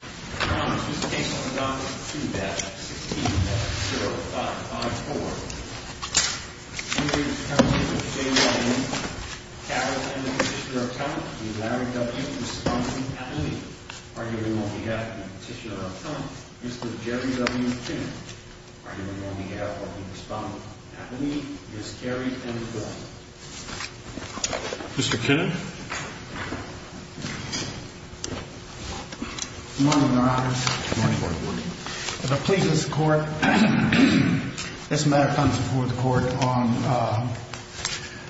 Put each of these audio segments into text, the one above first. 16-0554 Carroll and the Petitioner of Trump, Larry W. and the Respondent, Abby Lee arguing on behalf of the Petitioner of Trump, Mr. Jerry W. Kinner arguing on behalf of the Respondent, Abby Lee, Ms. Carrie M. Flynn Mr. Kinner Good morning, Your Honor. Good morning, Your Honor. If it pleases the Court, this matter comes before the Court on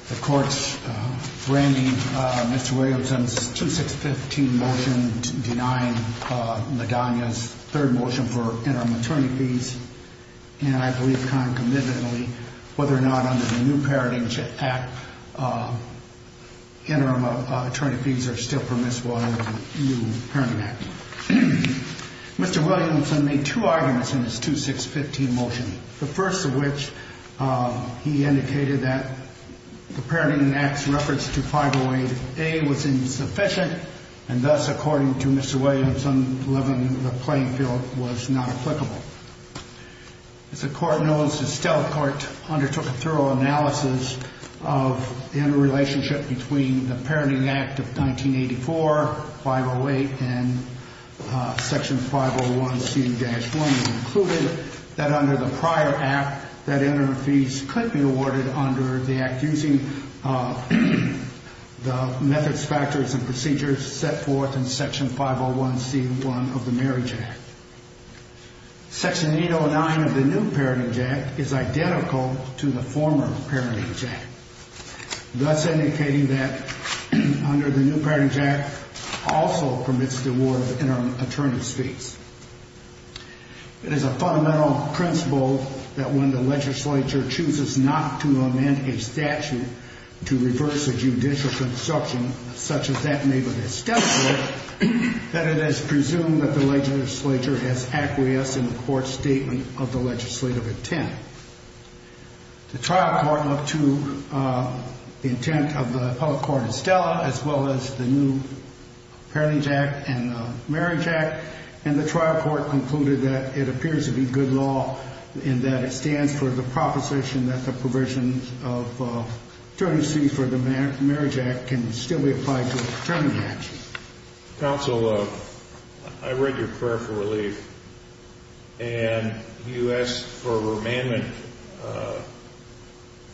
the Court's branding Mr. Williamson's 2615 motion denying Madonia's third motion for interim attorney fees and I believe concomitantly whether or not under the new Parenting Act interim attorney fees are still permissible under the new Parenting Act. Mr. Williamson made two arguments in his 2615 motion the first of which he indicated that the Parenting Act's reference to 508A was insufficient and thus, according to Mr. Williamson, the playing field was not applicable. As the Court knows, the Stell Court undertook a thorough analysis of the interrelationship between the Parenting Act of 1984, 508, and Section 501C-1 and concluded that under the prior Act, that interim fees could be awarded under the Act using the methods, factors, and procedures set forth in Section 501C-1 of the Marriage Act. Section 809 of the new Parenting Act is identical to the former Parenting Act thus indicating that under the new Parenting Act also permits the award of interim attorney fees. It is a fundamental principle that when the legislature chooses not to amend a statute to reverse a judicial conception such as that made of the Stell Court that it is presumed that the legislature has acquiesced in the Court's statement of the legislative intent. The trial court looked to the intent of the appellate court in Stella as well as the new Parenting Act and the Marriage Act and the trial court concluded that it appears to be good law in that it stands for the proposition that the provisions of interim fees for the Marriage Act can still be applied to an attorney action. Counsel, I read your prayer for relief and you asked for a remandment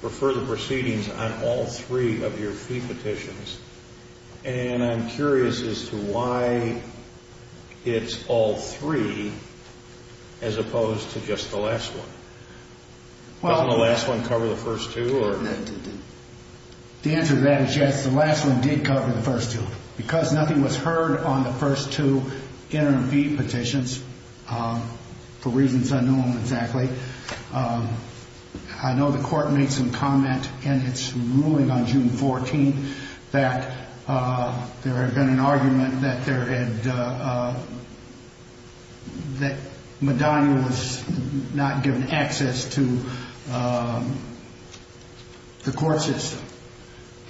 for further proceedings on all three of your fee petitions and I'm curious as to why it's all three as opposed to just the last one. Didn't the last one cover the first two? The answer to that is yes, the last one did cover the first two. Because nothing was heard on the first two interim fee petitions, for reasons I don't know exactly, I know the court made some comment in its ruling on June 14th that there had been an argument that Madonna was not given access to the court system.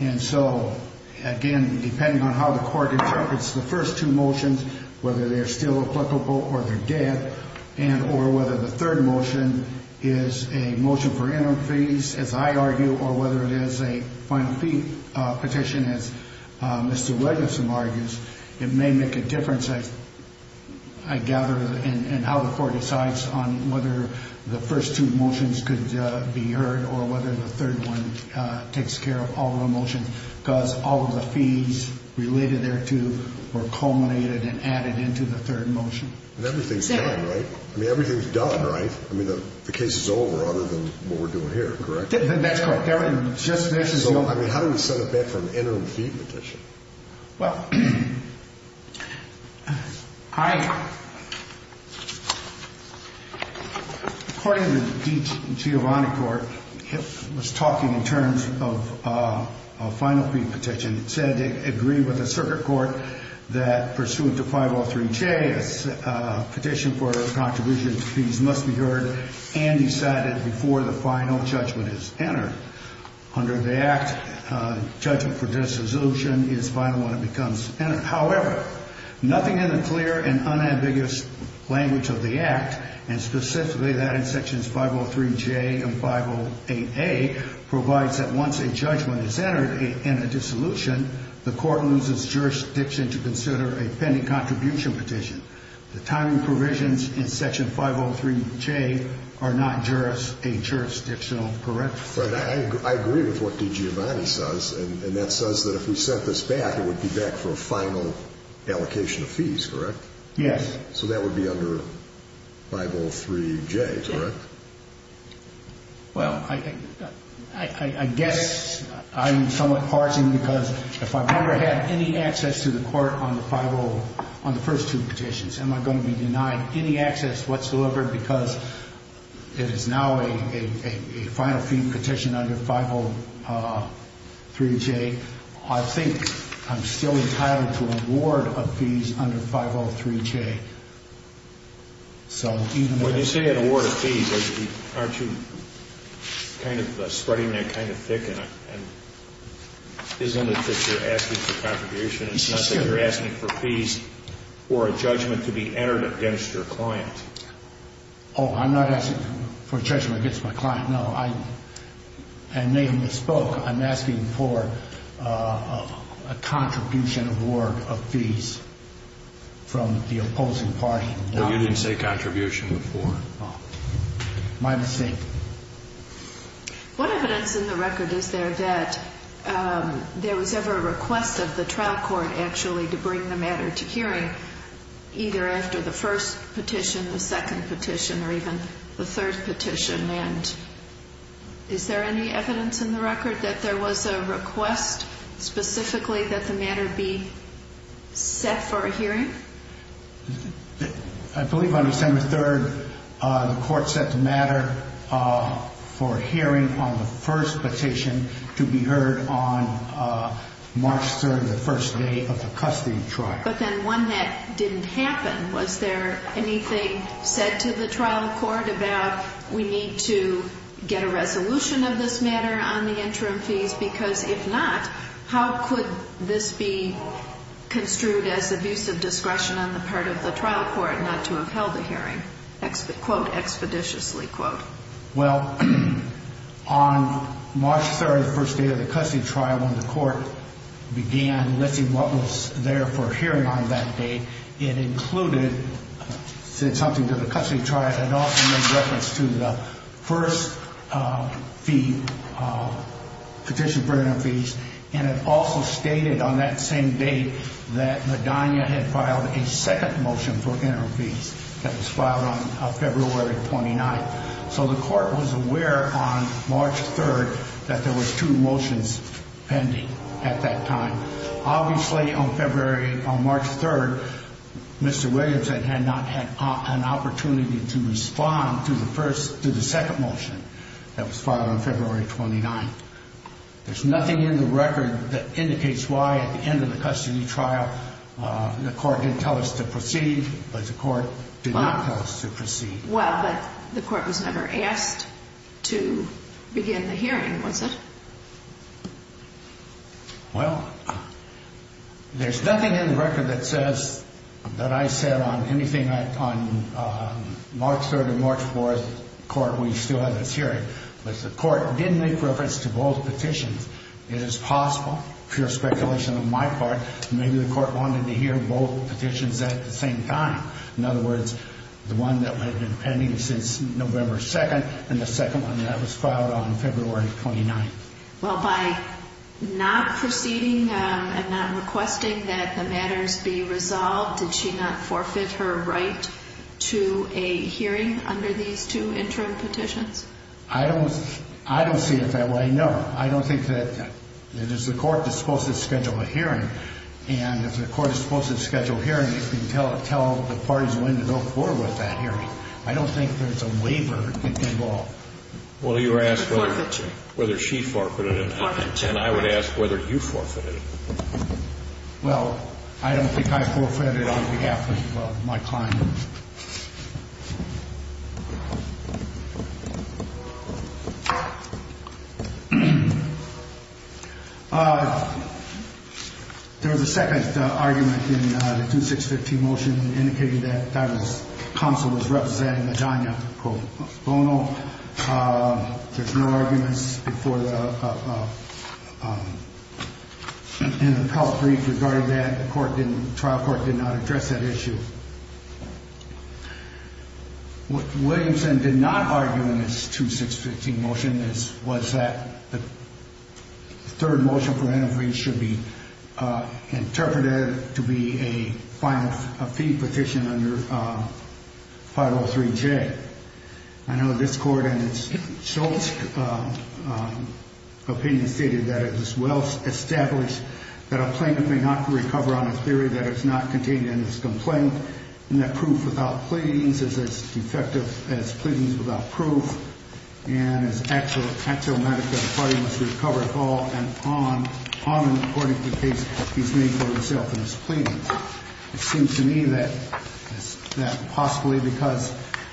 And so, again, depending on how the court interprets the first two motions, whether they're still applicable or they're dead, and or whether the third motion is a motion for interim fees, as I argue, or whether it is a final fee petition, as Mr. Wedgelson argues, it may make a difference, I gather, in how the court decides on whether the first two motions could be heard or whether the third one takes care of all the motions. Because all of the fees related thereto were culminated and added into the third motion. And everything's done, right? I mean, everything's done, right? I mean, the case is over other than what we're doing here, correct? That's correct. Everything just finishes over. So, I mean, how do we set a bet for an interim fee petition? Well, I, according to the Giovanni Court, it was talking in terms of a final fee petition. It said it agreed with the circuit court that pursuant to 503J, a petition for a contribution to fees must be heard and decided before the final judgment is entered. Under the Act, judgment for dissolution is final when it becomes final. However, nothing in the clear and unambiguous language of the Act, and specifically that in Sections 503J and 508A, provides that once a judgment is entered in a dissolution, the court loses jurisdiction to consider a pending contribution petition. The timing provisions in Section 503J are not a jurisdictional correction. Right. I agree with what the Giovanni says, and that says that if we set this back, it would be back for a final allocation of fees, correct? Yes. So that would be under 503J, correct? Well, I guess I'm somewhat parsing because if I've never had any access to the court on the first two petitions, am I going to be denied any access whatsoever because it is now a final fee petition under 503J? I think I'm still entitled to award of fees under 503J. When you say an award of fees, aren't you kind of spreading that kind of thick, and isn't it that you're asking for contribution? It's not that you're asking for fees or a judgment to be entered against your client. Oh, I'm not asking for judgment against my client, no. I may have misspoke. I'm asking for a contribution award of fees from the opposing party. No, you didn't say contribution before. My mistake. What evidence in the record is there that there was ever a request of the trial court actually to bring the matter to hearing, either after the first petition, the second petition, or even the third petition? And is there any evidence in the record that there was a request specifically that the matter be set for a hearing? I believe on December 3rd, the court set the matter for a hearing on the first petition to be heard on March 3rd, the first day of the custody trial. But then one that didn't happen. Was there anything said to the trial court about we need to get a resolution of this matter on the interim fees? Because if not, how could this be construed as abusive discretion on the part of the trial court not to have held a hearing, Well, on March 3rd, the first day of the custody trial, when the court began listing what was there for a hearing on that day, it included, said something to the custody trial. It also made reference to the first fee, petition for interim fees. And it also stated on that same date that Medina had filed a second motion for interim fees that was filed on February 29th. So the court was aware on March 3rd that there was two motions pending at that time. Obviously, on February, on March 3rd, Mr. Williams had not had an opportunity to respond to the first, to the second motion that was filed on February 29th. There's nothing in the record that indicates why at the end of the custody trial, the court didn't tell us to proceed, but the court did not tell us to proceed. Well, but the court was never asked to begin the hearing, was it? Well, there's nothing in the record that says that I said on anything on March 3rd and March 4th court we still had this hearing. But the court did make reference to both petitions. It is possible, pure speculation on my part, maybe the court wanted to hear both petitions at the same time. In other words, the one that had been pending since November 2nd and the second one that was filed on February 29th. Well, by not proceeding and not requesting that the matters be resolved, did she not forfeit her right to a hearing under these two interim petitions? I don't see it that way, no. Well, I don't think that it is the court that's supposed to schedule a hearing. And if the court is supposed to schedule a hearing, it can tell the parties when to go forward with that hearing. I don't think there's a waiver involved. Well, you were asked whether she forfeited it. And I would ask whether you forfeited it. Well, I don't think I forfeited it on behalf of my client. There was a second argument in the 2-6-15 motion that indicated that the counsel was representing Adania Bono. There's no arguments in the court brief regarding that. The trial court did not address that issue. What Williamson did not argue in this 2-6-15 motion was that the third motion should be interpreted to be a fee petition under 503-J. I know this court in its Schultz opinion stated that it is well established that a plaintiff may not recover on a theory that is not contained in his complaint, and that proof without pleadings is as defective as pleadings without proof, and is axiomatic that the party must recover at all and on, according to the case that he's made for himself in his pleadings. It seems to me that possibly because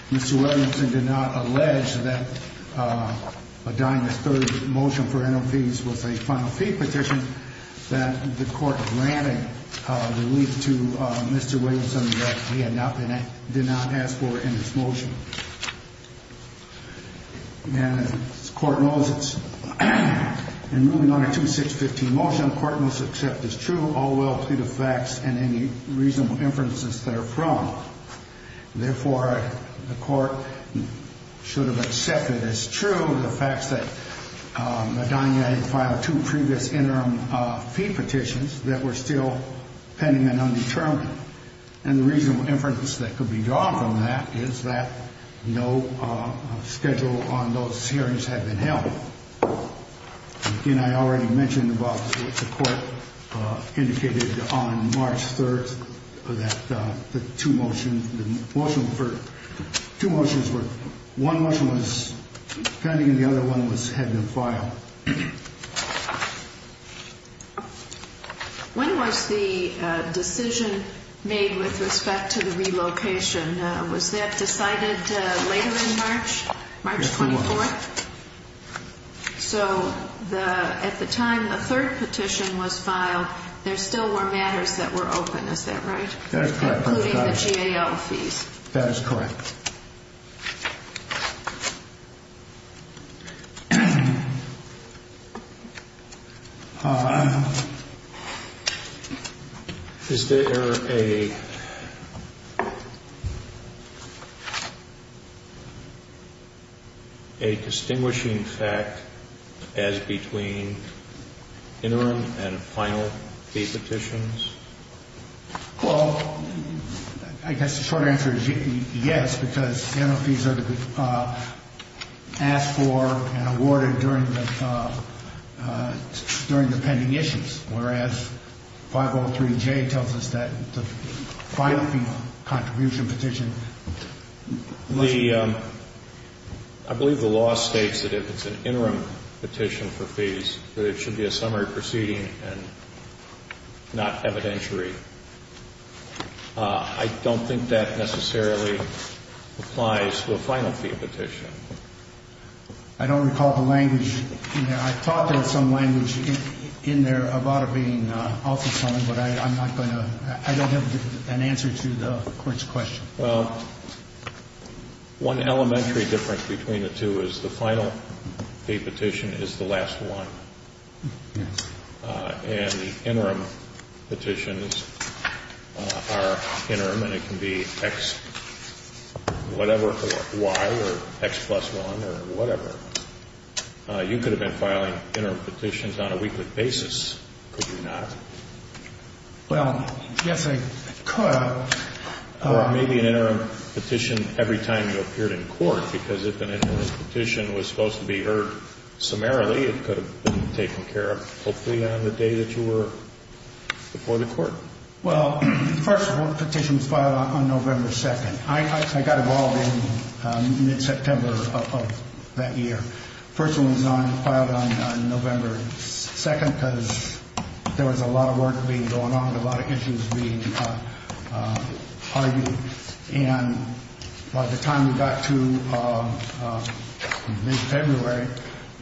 Mr. Williamson did not allege that Adania's third motion for NFPs was a final fee petition, that the court granted relief to Mr. Williamson that he had not asked for in his motion. And as the court knows, in moving on to the 2-6-15 motion, the court must accept as true all will to the facts and any reasonable inferences therefrom. Therefore, the court should have accepted as true the facts that Adania had filed two previous interim fee petitions that were still pending and undetermined. And the reasonable inference that could be drawn from that is that no schedule on those hearings had been held. Again, I already mentioned about the court indicated on March 3rd that the two motions, the motion for, two motions were, one motion was pending and the other one was, had been filed. When was the decision made with respect to the relocation? Was that decided later in March, March 24th? Yes, it was. So at the time the third petition was filed, there still were matters that were open, is that right? That is correct. Including the GAL fees. That is correct. Is there a distinguishing fact as between interim and final fee petitions? Well, I guess the short answer is yes, because the M.O. fees are asked for and awarded during the pending issues, whereas 503J tells us that the final fee contribution petition. The, I believe the law states that if it's an interim petition for fees, that it should be a summary proceeding and not evidentiary. I don't think that necessarily applies to a final fee petition. I don't recall the language in there. I thought there was some language in there about it being also summary, but I'm not going to, I don't have an answer to the court's question. Well, one elementary difference between the two is the final fee petition is the last one. And the interim petitions are interim, and it can be X, whatever, or Y, or X plus one, or whatever. You could have been filing interim petitions on a weekly basis, could you not? Well, yes, I could. Or maybe an interim petition every time you appeared in court, because if an interim petition was supposed to be heard summarily, it could have been taken care of hopefully on the day that you were before the court. Well, first of all, the petition was filed on November 2nd. I got involved in mid-September of that year. The first one was filed on November 2nd because there was a lot of work being going on and a lot of issues being argued. And by the time we got to mid-February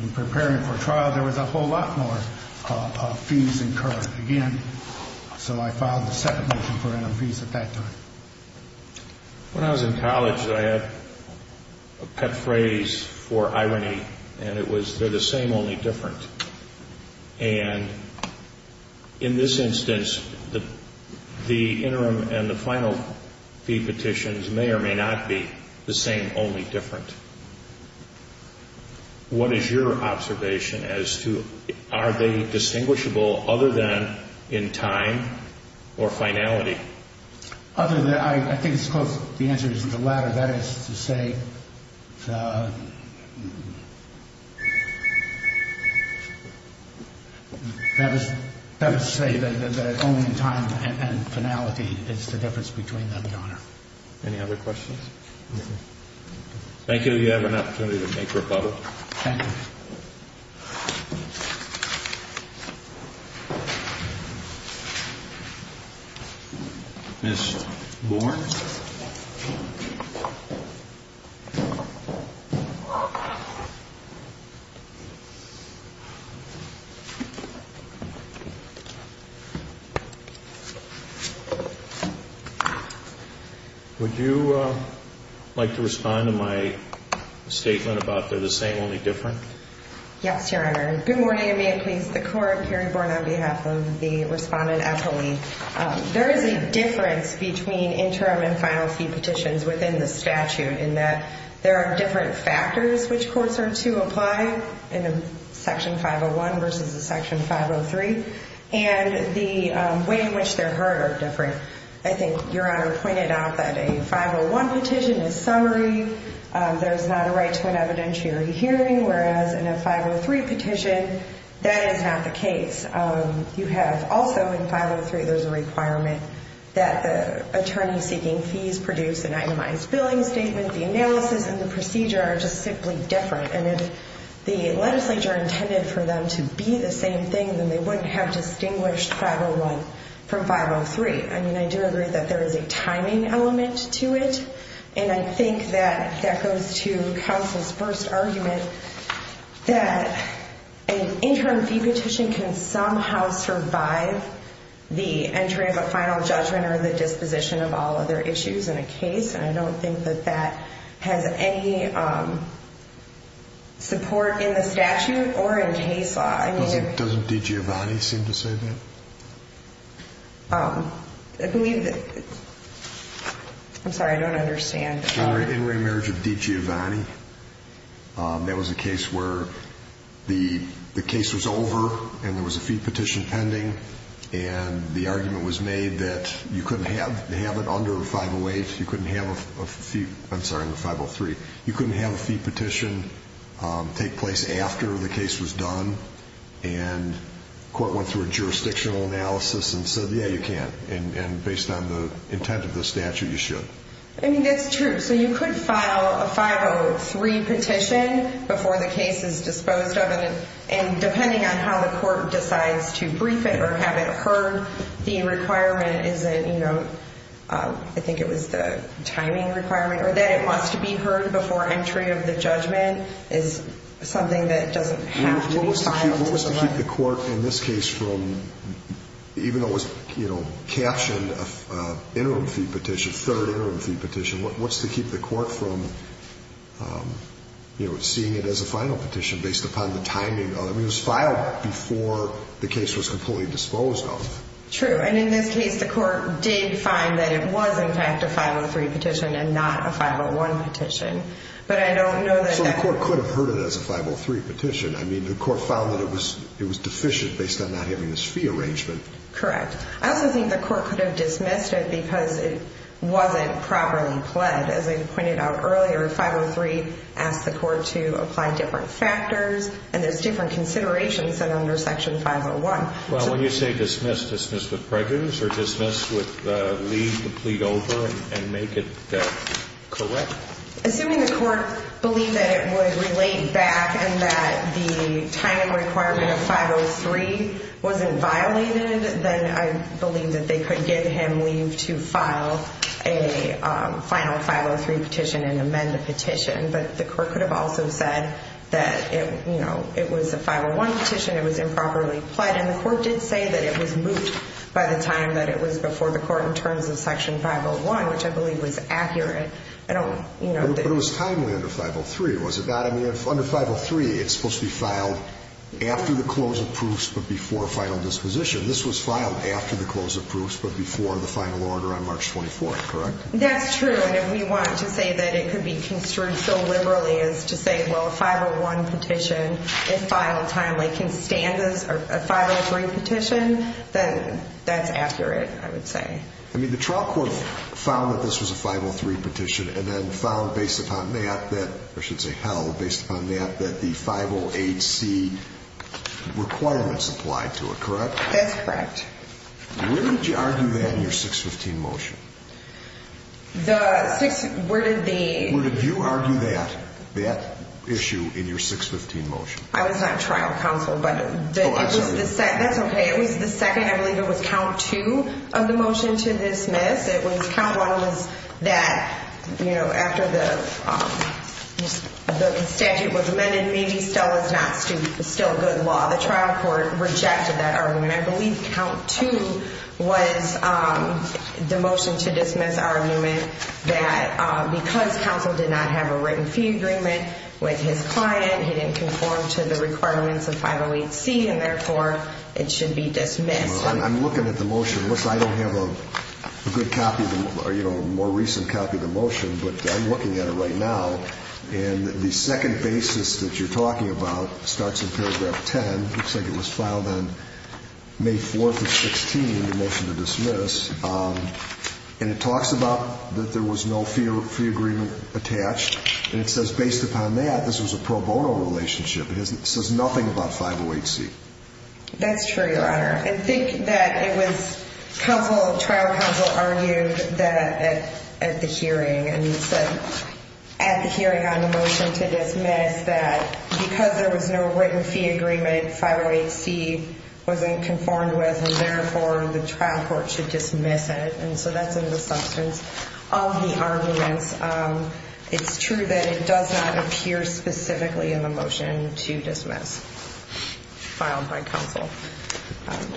in preparing for trial, there was a whole lot more fees incurred again. So I filed the second motion for interim fees at that time. When I was in college, I had a pet phrase for irony, and it was, they're the same, only different. And in this instance, the interim and the final fee petitions may or may not be the same, only different. What is your observation as to are they distinguishable other than in time or finality? Other than, I think it's close. The answer is the latter. That is to say that only in time and finality is the difference between them, Your Honor. Any other questions? No, sir. Thank you. Thank you. You have an opportunity to make rebuttal. Thank you. Ms. Bourne. Would you like to respond to my statement about they're the same, only different? Yes, Your Honor. Good morning, and may it please the Court. Carrie Bourne on behalf of the respondent appellee. There is a difference between interim and final fee petitions within the statute in that there are different factors which courts are to apply in a Section 501 versus a Section 503, and the way in which they're heard are different. I think Your Honor pointed out that a 501 petition is summary. There's not a right to an evidentiary hearing, whereas in a 503 petition, that is not the case. You have also in 503 there's a requirement that the attorney seeking fees produce an itemized billing statement. The analysis and the procedure are just simply different, and if the legislature intended for them to be the same thing, then they wouldn't have distinguished 501 from 503. I mean, I do agree that there is a timing element to it. And I think that that goes to counsel's first argument that an interim fee petition can somehow survive the entry of a final judgment or the disposition of all other issues in a case, and I don't think that that has any support in the statute or in case law. Doesn't DiGiovanni seem to say that? I believe that – I'm sorry, I don't understand. In remarriage of DiGiovanni, that was a case where the case was over and there was a fee petition pending, and the argument was made that you couldn't have it under 508. You couldn't have a fee – I'm sorry, under 503. You couldn't have a fee petition take place after the case was done, and court went through a jurisdictional analysis and said, yeah, you can, and based on the intent of the statute, you should. I mean, that's true. So you could file a 503 petition before the case is disposed of, and depending on how the court decides to brief it or have it heard, the requirement isn't – I think it was the timing requirement, or that it wants to be heard before entry of the judgment is something that doesn't have to be filed. What was to keep the court in this case from – even though it was, you know, captioned interim fee petition, third interim fee petition, what's to keep the court from, you know, seeing it as a final petition based upon the timing? I mean, it was filed before the case was completely disposed of. True, and in this case, the court did find that it was in fact a 503 petition and not a 501 petition, but I don't know that – I mean, the court found that it was deficient based on not having this fee arrangement. Correct. I also think the court could have dismissed it because it wasn't properly pled. As I pointed out earlier, 503 asked the court to apply different factors, and there's different considerations than under Section 501. Well, when you say dismissed, dismissed with prejudice or dismissed with leave the plea over and make it correct? Assuming the court believed that it would relate back and that the timing requirement of 503 wasn't violated, then I believe that they could give him leave to file a final 503 petition and amend the petition. But the court could have also said that, you know, it was a 501 petition, it was improperly pled, and the court did say that it was moved by the time that it was before the court in terms of Section 501, which I believe was accurate. But it was timely under 503, was it not? I mean, under 503, it's supposed to be filed after the close of proofs but before final disposition. This was filed after the close of proofs but before the final order on March 24th, correct? That's true, and if we want to say that it could be construed so liberally as to say, well, a 501 petition, if filed timely, can stand as a 503 petition, then that's accurate, I would say. I mean, the trial court found that this was a 503 petition and then found based upon that, or I should say held based upon that, that the 508C requirements applied to it, correct? That's correct. Where did you argue that in your 615 motion? The 6, where did the... Where did you argue that, that issue in your 615 motion? I was not trial counsel, but... Oh, I'm sorry. That's okay. It was the second, I believe it was count two of the motion to dismiss. It was count one was that, you know, after the statute was amended, maybe still is not, is still good law. The trial court rejected that argument. I believe count two was the motion to dismiss argument that because counsel did not have a written fee agreement with his client, he didn't conform to the requirements of 508C, and therefore, it should be dismissed. I'm looking at the motion. Unless I don't have a good copy, you know, more recent copy of the motion, but I'm looking at it right now, and the second basis that you're talking about starts in paragraph 10. It looks like it was filed on May 4th of 16, the motion to dismiss, and it talks about that there was no fee agreement attached, and it says based upon that, this was a pro bono relationship. It says nothing about 508C. That's true, Your Honor. I think that it was trial counsel argued that at the hearing, and he said at the hearing on the motion to dismiss that because there was no written fee agreement, 508C wasn't conformed with, and therefore, the trial court should dismiss it. And so that's in the substance of the arguments. It's true that it does not appear specifically in the motion to dismiss filed by counsel.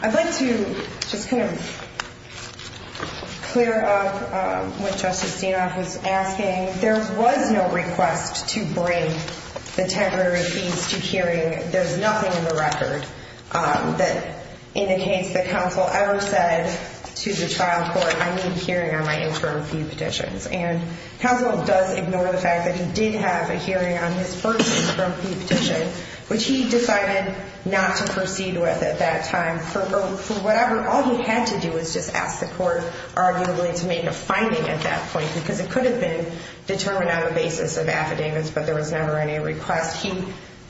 I'd like to just kind of clear up what Justice Dinoff was asking. There was no request to bring the temporary fees to hearing. There's nothing in the record that indicates that counsel ever said to the trial court, I need hearing on my interim fee petitions. And counsel does ignore the fact that he did have a hearing on his first interim fee petition, which he decided not to proceed with at that time. For whatever, all he had to do was just ask the court, arguably, to make a finding at that point because it could have been determined on the basis of affidavits, but there was never any request. He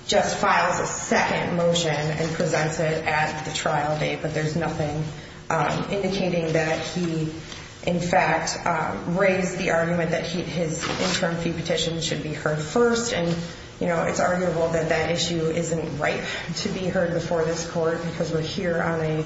just files a second motion and presents it at the trial date, but there's nothing indicating that he, in fact, raised the argument that his interim fee petition should be heard first. And it's arguable that that issue isn't right to be heard before this court because we're here on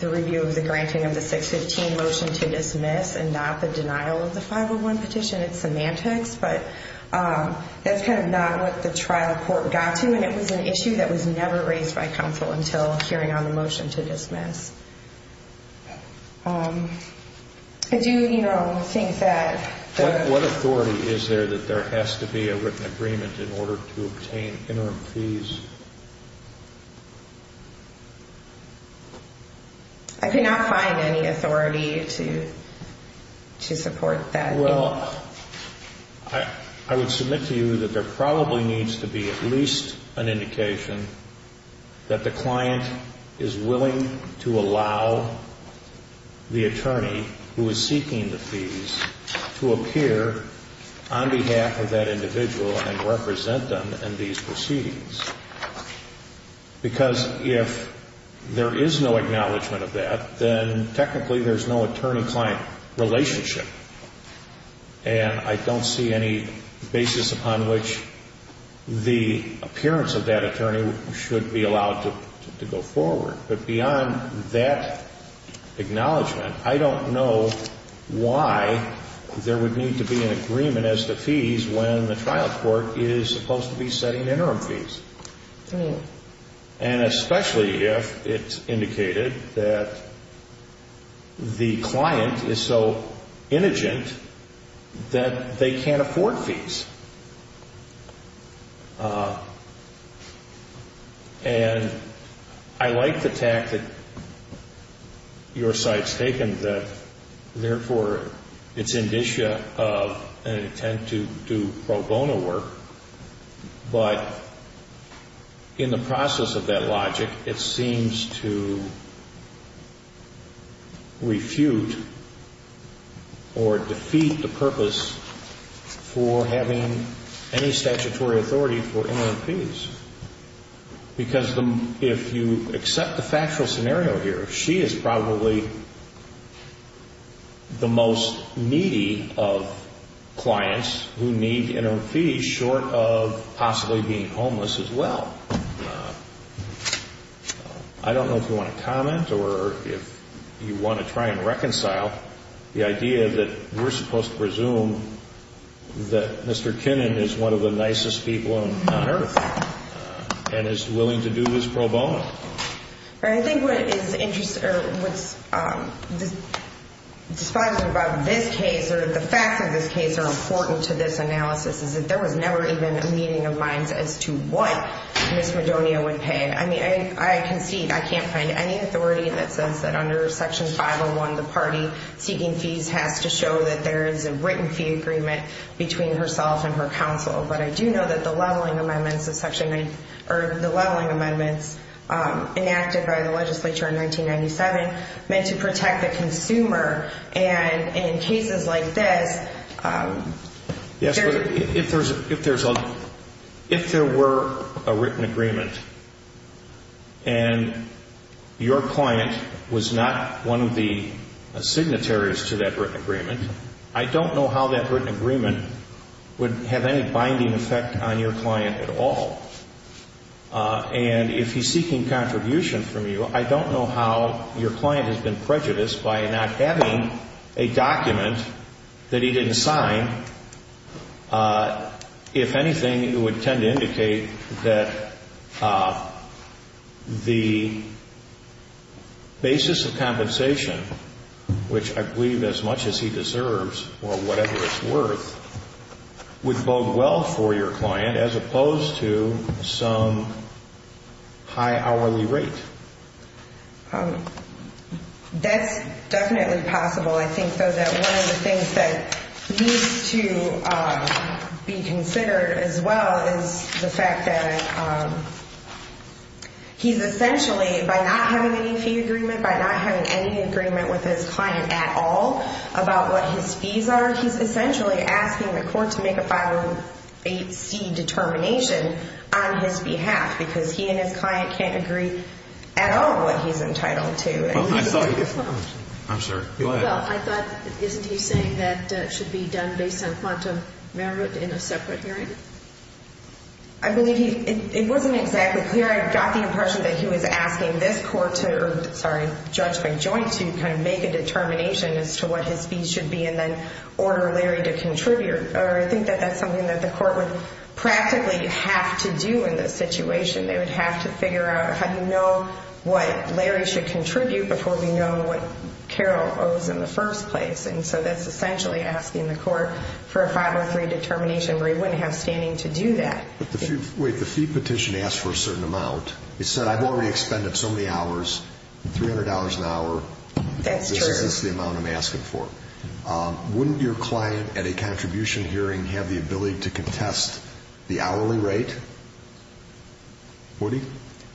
the review of the granting of the 615 motion to dismiss and not the denial of the 501 petition. It's semantics, but that's kind of not what the trial court got to, and it was an issue that was never raised by counsel until hearing on the motion to dismiss. I do, you know, think that... What authority is there that there has to be a written agreement in order to obtain interim fees? I cannot find any authority to support that. Well, I would submit to you that there probably needs to be at least an indication that the client is willing to allow the attorney who is seeking the fees to appear on behalf of that individual and represent them in these proceedings. Because if there is no acknowledgment of that, then technically there's no attorney-client relationship, and I don't see any basis upon which the appearance of that attorney should be allowed to go forward. But beyond that acknowledgment, I don't know why there would need to be an agreement as to fees when the trial court is supposed to be setting interim fees. And especially if it's indicated that the client is so indigent that they can't afford fees. And I like the tact that your side's taken, that therefore it's indigent of an intent to do pro bono work, but in the process of that logic, it seems to refute or defeat the purpose for having the attorney present. I don't see any statutory authority for interim fees. Because if you accept the factual scenario here, she is probably the most needy of clients who need interim fees short of possibly being homeless as well. I don't know if you want to comment or if you want to try and reconcile the idea that we're supposed to presume that Mr. Kinnan is one of the nicest people on earth and is willing to do his pro bono. I think what is interesting about this case or the facts of this case are important to this analysis is that there was never even a meeting of minds as to what Ms. Madonia would pay. I mean, I concede I can't find any authority that says that under Section 501, the party seeking fees has to show that there is a written fee agreement between herself and her counsel. But I do know that the leveling amendments enacted by the legislature in 1997 meant to protect the consumer. And in cases like this… Yes, but if there were a written agreement and your client was not one of the signatories to that written agreement, I don't know how that written agreement would have any binding effect on your client at all. And if he's seeking contribution from you, I don't know how your client has been prejudiced by not having a document that he didn't sign. If anything, it would tend to indicate that the basis of compensation, which I believe as much as he deserves or whatever it's worth, would bode well for your client as opposed to some high hourly rate. That's definitely possible. I think, though, that one of the things that needs to be considered as well is the fact that he's essentially, by not having any fee agreement, by not having any agreement with his client at all about what his fees are, he's essentially asking the court to make a 508C determination on his behalf because he and his client can't agree at all what he's entitled to. Well, I thought… I'm sorry. Go ahead. Well, I thought, isn't he saying that it should be done based on quantum merit in a separate hearing? I believe he… It wasn't exactly clear. I got the impression that he was asking this court to… Sorry. Judge McJoint to kind of make a determination as to what his fees should be and then order Larry to contribute. Or I think that that's something that the court would practically have to do in this situation. They would have to figure out how to know what Larry should contribute before we know what Carol owes in the first place. And so that's essentially asking the court for a 503 determination where he wouldn't have standing to do that. But the fee petition asked for a certain amount. It said, I've already expended so many hours, $300 an hour. That's true. This is the amount I'm asking for. Wouldn't your client at a contribution hearing have the ability to contest the hourly rate? Would he?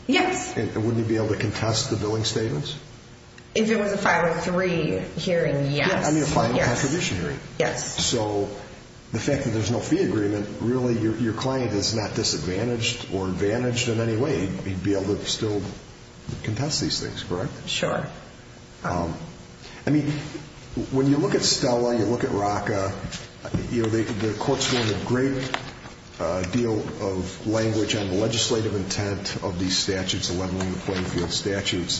Yes. And wouldn't he be able to contest the billing statements? If it was a 503 hearing, yes. I mean, a final contribution hearing. Yes. So the fact that there's no fee agreement, really your client is not disadvantaged or advantaged in any way. He'd be able to still contest these things, correct? Sure. I mean, when you look at Stella, you look at Raka, you know, the court's given a great deal of language on the legislative intent of these statutes,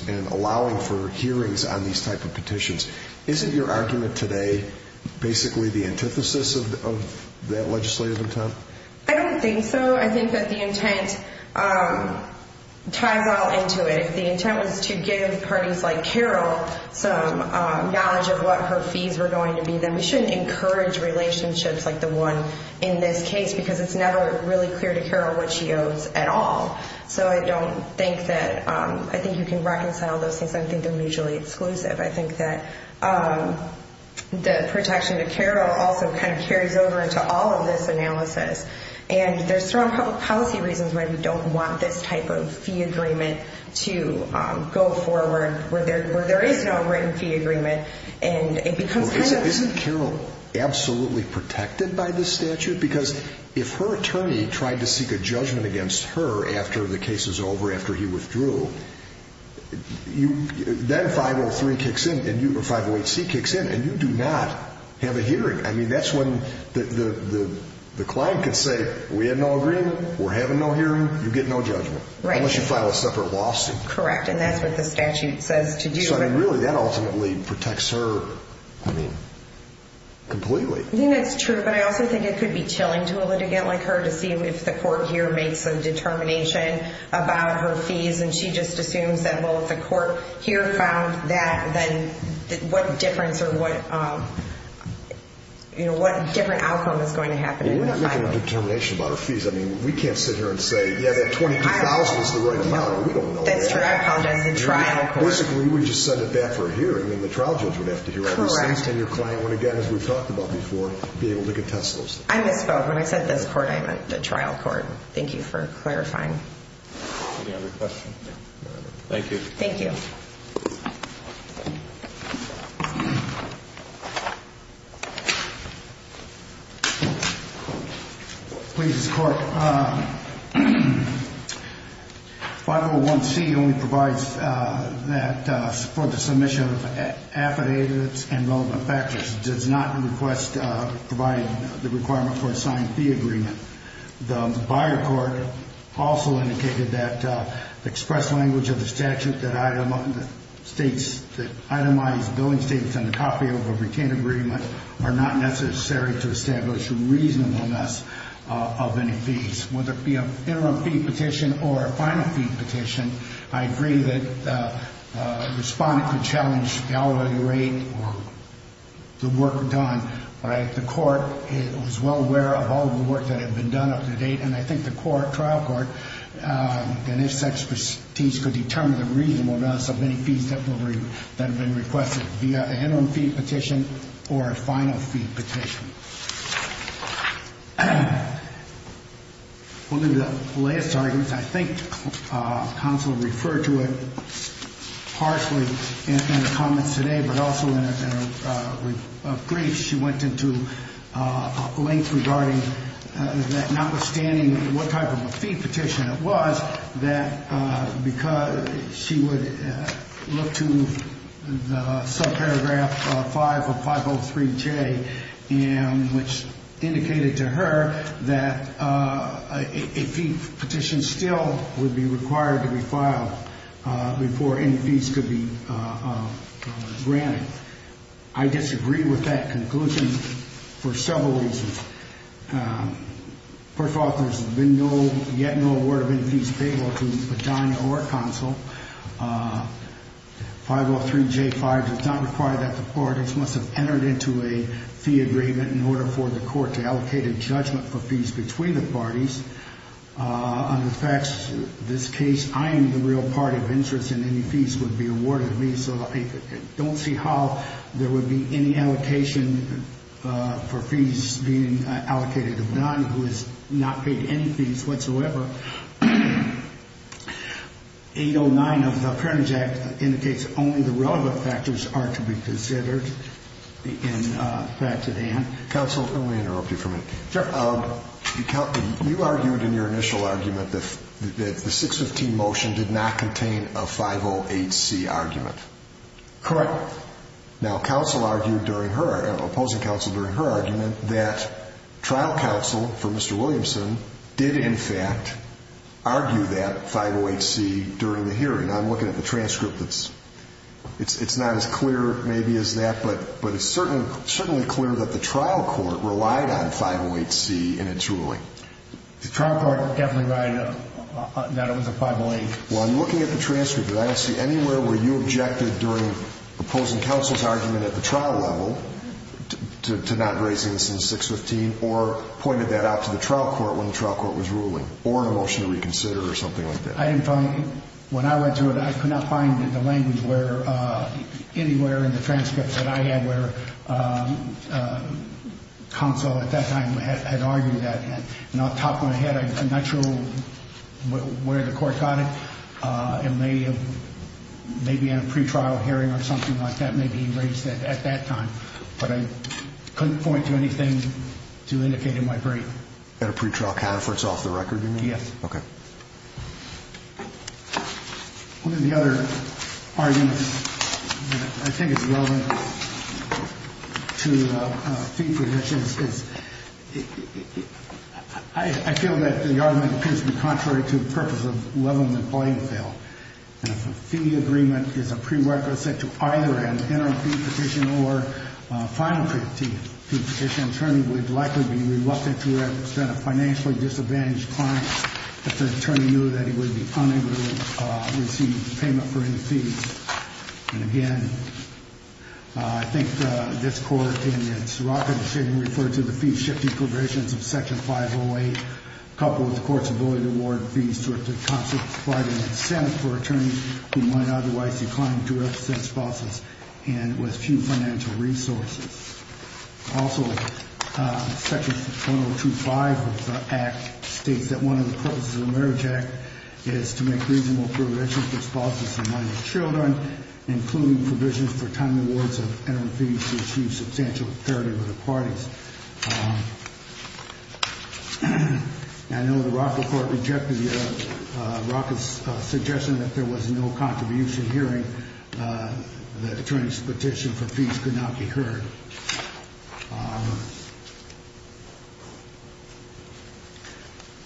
and allowing for hearings on these type of petitions. Isn't your argument today basically the antithesis of that legislative intent? I don't think so. I think that the intent ties all into it. If the intent was to give parties like Carol some knowledge of what her fees were going to be, then we shouldn't encourage relationships like the one in this case because it's never really clear to Carol what she owes at all. So I don't think that, I think you can reconcile those things. I don't think they're mutually exclusive. I think that the protection to Carol also kind of carries over into all of this analysis. And there's strong public policy reasons why we don't want this type of fee agreement to go forward where there is no written fee agreement. Isn't Carol absolutely protected by this statute? Because if her attorney tried to seek a judgment against her after the case is over, after he withdrew, then 503 kicks in, or 508C kicks in, and you do not have a hearing. I mean, that's when the client can say, we had no agreement, we're having no hearing, you get no judgment. Right. Unless you file a separate lawsuit. Correct, and that's what the statute says to do. So, I mean, really that ultimately protects her, I mean, completely. I think that's true, but I also think it could be chilling to a litigant like her to see if the court here makes a determination about her fees and she just assumes that, well, if the court here filed that, then what difference or what, you know, what different outcome is going to happen in the filing. Well, we're not making a determination about her fees. I mean, we can't sit here and say, yeah, that 22,000 is the right amount. We don't know that. That's true. I apologize. The trial court. Basically, we would just send it back for a hearing, and then the trial judge would have to hear all these things. Correct. And your client would, again, as we've talked about before, be able to contest those things. I misspoke. When I said this court, I meant the trial court. Thank you for clarifying. Any other questions? Thank you. Thank you. Please, Court. 501C only provides that for the submission of affidavits and relevant factors. It does not request providing the requirement for a signed fee agreement. The buyer court also indicated that the express language of the statute that states that itemized billing statements and a copy of a retained agreement are not necessary to establish reasonableness of any fees. Whether it be an interim fee petition or a final fee petition, I agree that the respondent could challenge the hourly rate or the work done. The court was well aware of all the work that had been done up to date, and I think the court, trial court, and its expertise could determine the reasonableness of any fees that have been requested, be it an interim fee petition or a final fee petition. We'll do the latest arguments. I think counsel referred to it partially in the comments today, but also in a brief. She went into length regarding that notwithstanding what type of a fee petition it was, that because she would look to the subparagraph 5 of 503J, which indicated to her that a fee petition still would be required to be filed before any fees could be granted. I disagree with that conclusion for several reasons. First of all, there's been no, yet no award of any fees paid to Adania or counsel. 503J-5 does not require that the parties must have entered into a fee agreement in order for the court to allocate a judgment for fees between the parties. Under the facts of this case, I am the real party of interest, and any fees would be awarded to me, so I don't see how there would be any allocation for fees being allocated to Adania, who has not paid any fees whatsoever. 809 of the Appearance Act indicates only the relevant factors are to be considered. Counsel, let me interrupt you for a minute. Sure. You argued in your initial argument that the 615 motion did not contain a 508C argument. Correct. Now, counsel argued during her, opposing counsel during her argument, that trial counsel for Mr. Williamson did, in fact, argue that 508C during the hearing. Now, I'm looking at the transcript. It's not as clear, maybe, as that, but it's certainly clear that the trial court relied on 508C in its ruling. The trial court definitely relied on that it was a 508. Well, I'm looking at the transcript, but I don't see anywhere where you objected during opposing counsel's argument at the trial level to not raising this in the 615 or pointed that out to the trial court when the trial court was ruling or in a motion to reconsider or something like that. When I went through it, I could not find the language anywhere in the transcript that I had where counsel at that time had argued that. And I'll top my head, I'm not sure where the court got it. It may be in a pretrial hearing or something like that. Maybe he raised it at that time. But I couldn't point to anything to indicate in my brief. At a pretrial conference off the record, you mean? Yes. Okay. One of the other arguments that I think is relevant to fee petitions is I feel that the argument appears to be contrary to the purpose of leveling the playing field. If a fee agreement is a prerequisite to either an interim fee petition or a final fee petition, an attorney would likely be reluctant to represent a financially disadvantaged client if the attorney knew that he would be unable to receive payment for any fees. And, again, I think this court in its rocker decision referred to the fee-shifting provisions of Section 508, coupled with the court's ability to award fees to it to constitute quite an incentive for attorneys who might otherwise decline to represent spouses and with few financial resources. Also, Section 1025 of the Act states that one of the purposes of the Marriage Act is to make reasonable provisions for spouses and minor children, including provisions for timely awards of interim fees to achieve substantial clarity with the parties. I know the rocker court rejected the rocker's suggestion that there was no contribution hearing. The attorney's petition for fees could not be heard.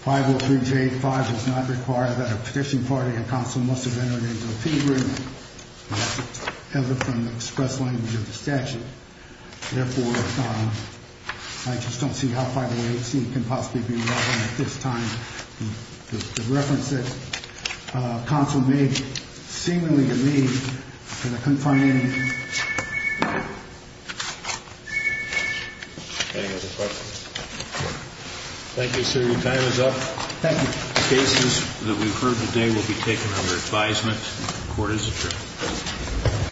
503J-5 does not require that a petition party or counsel must have entered into a fee agreement ever from the express language of the statute. Therefore, I just don't see how 508C can possibly be relevant at this time. Thank you, sir. Your time is up. Thank you. The cases that we've heard today will be taken under advisement. The court is adjourned.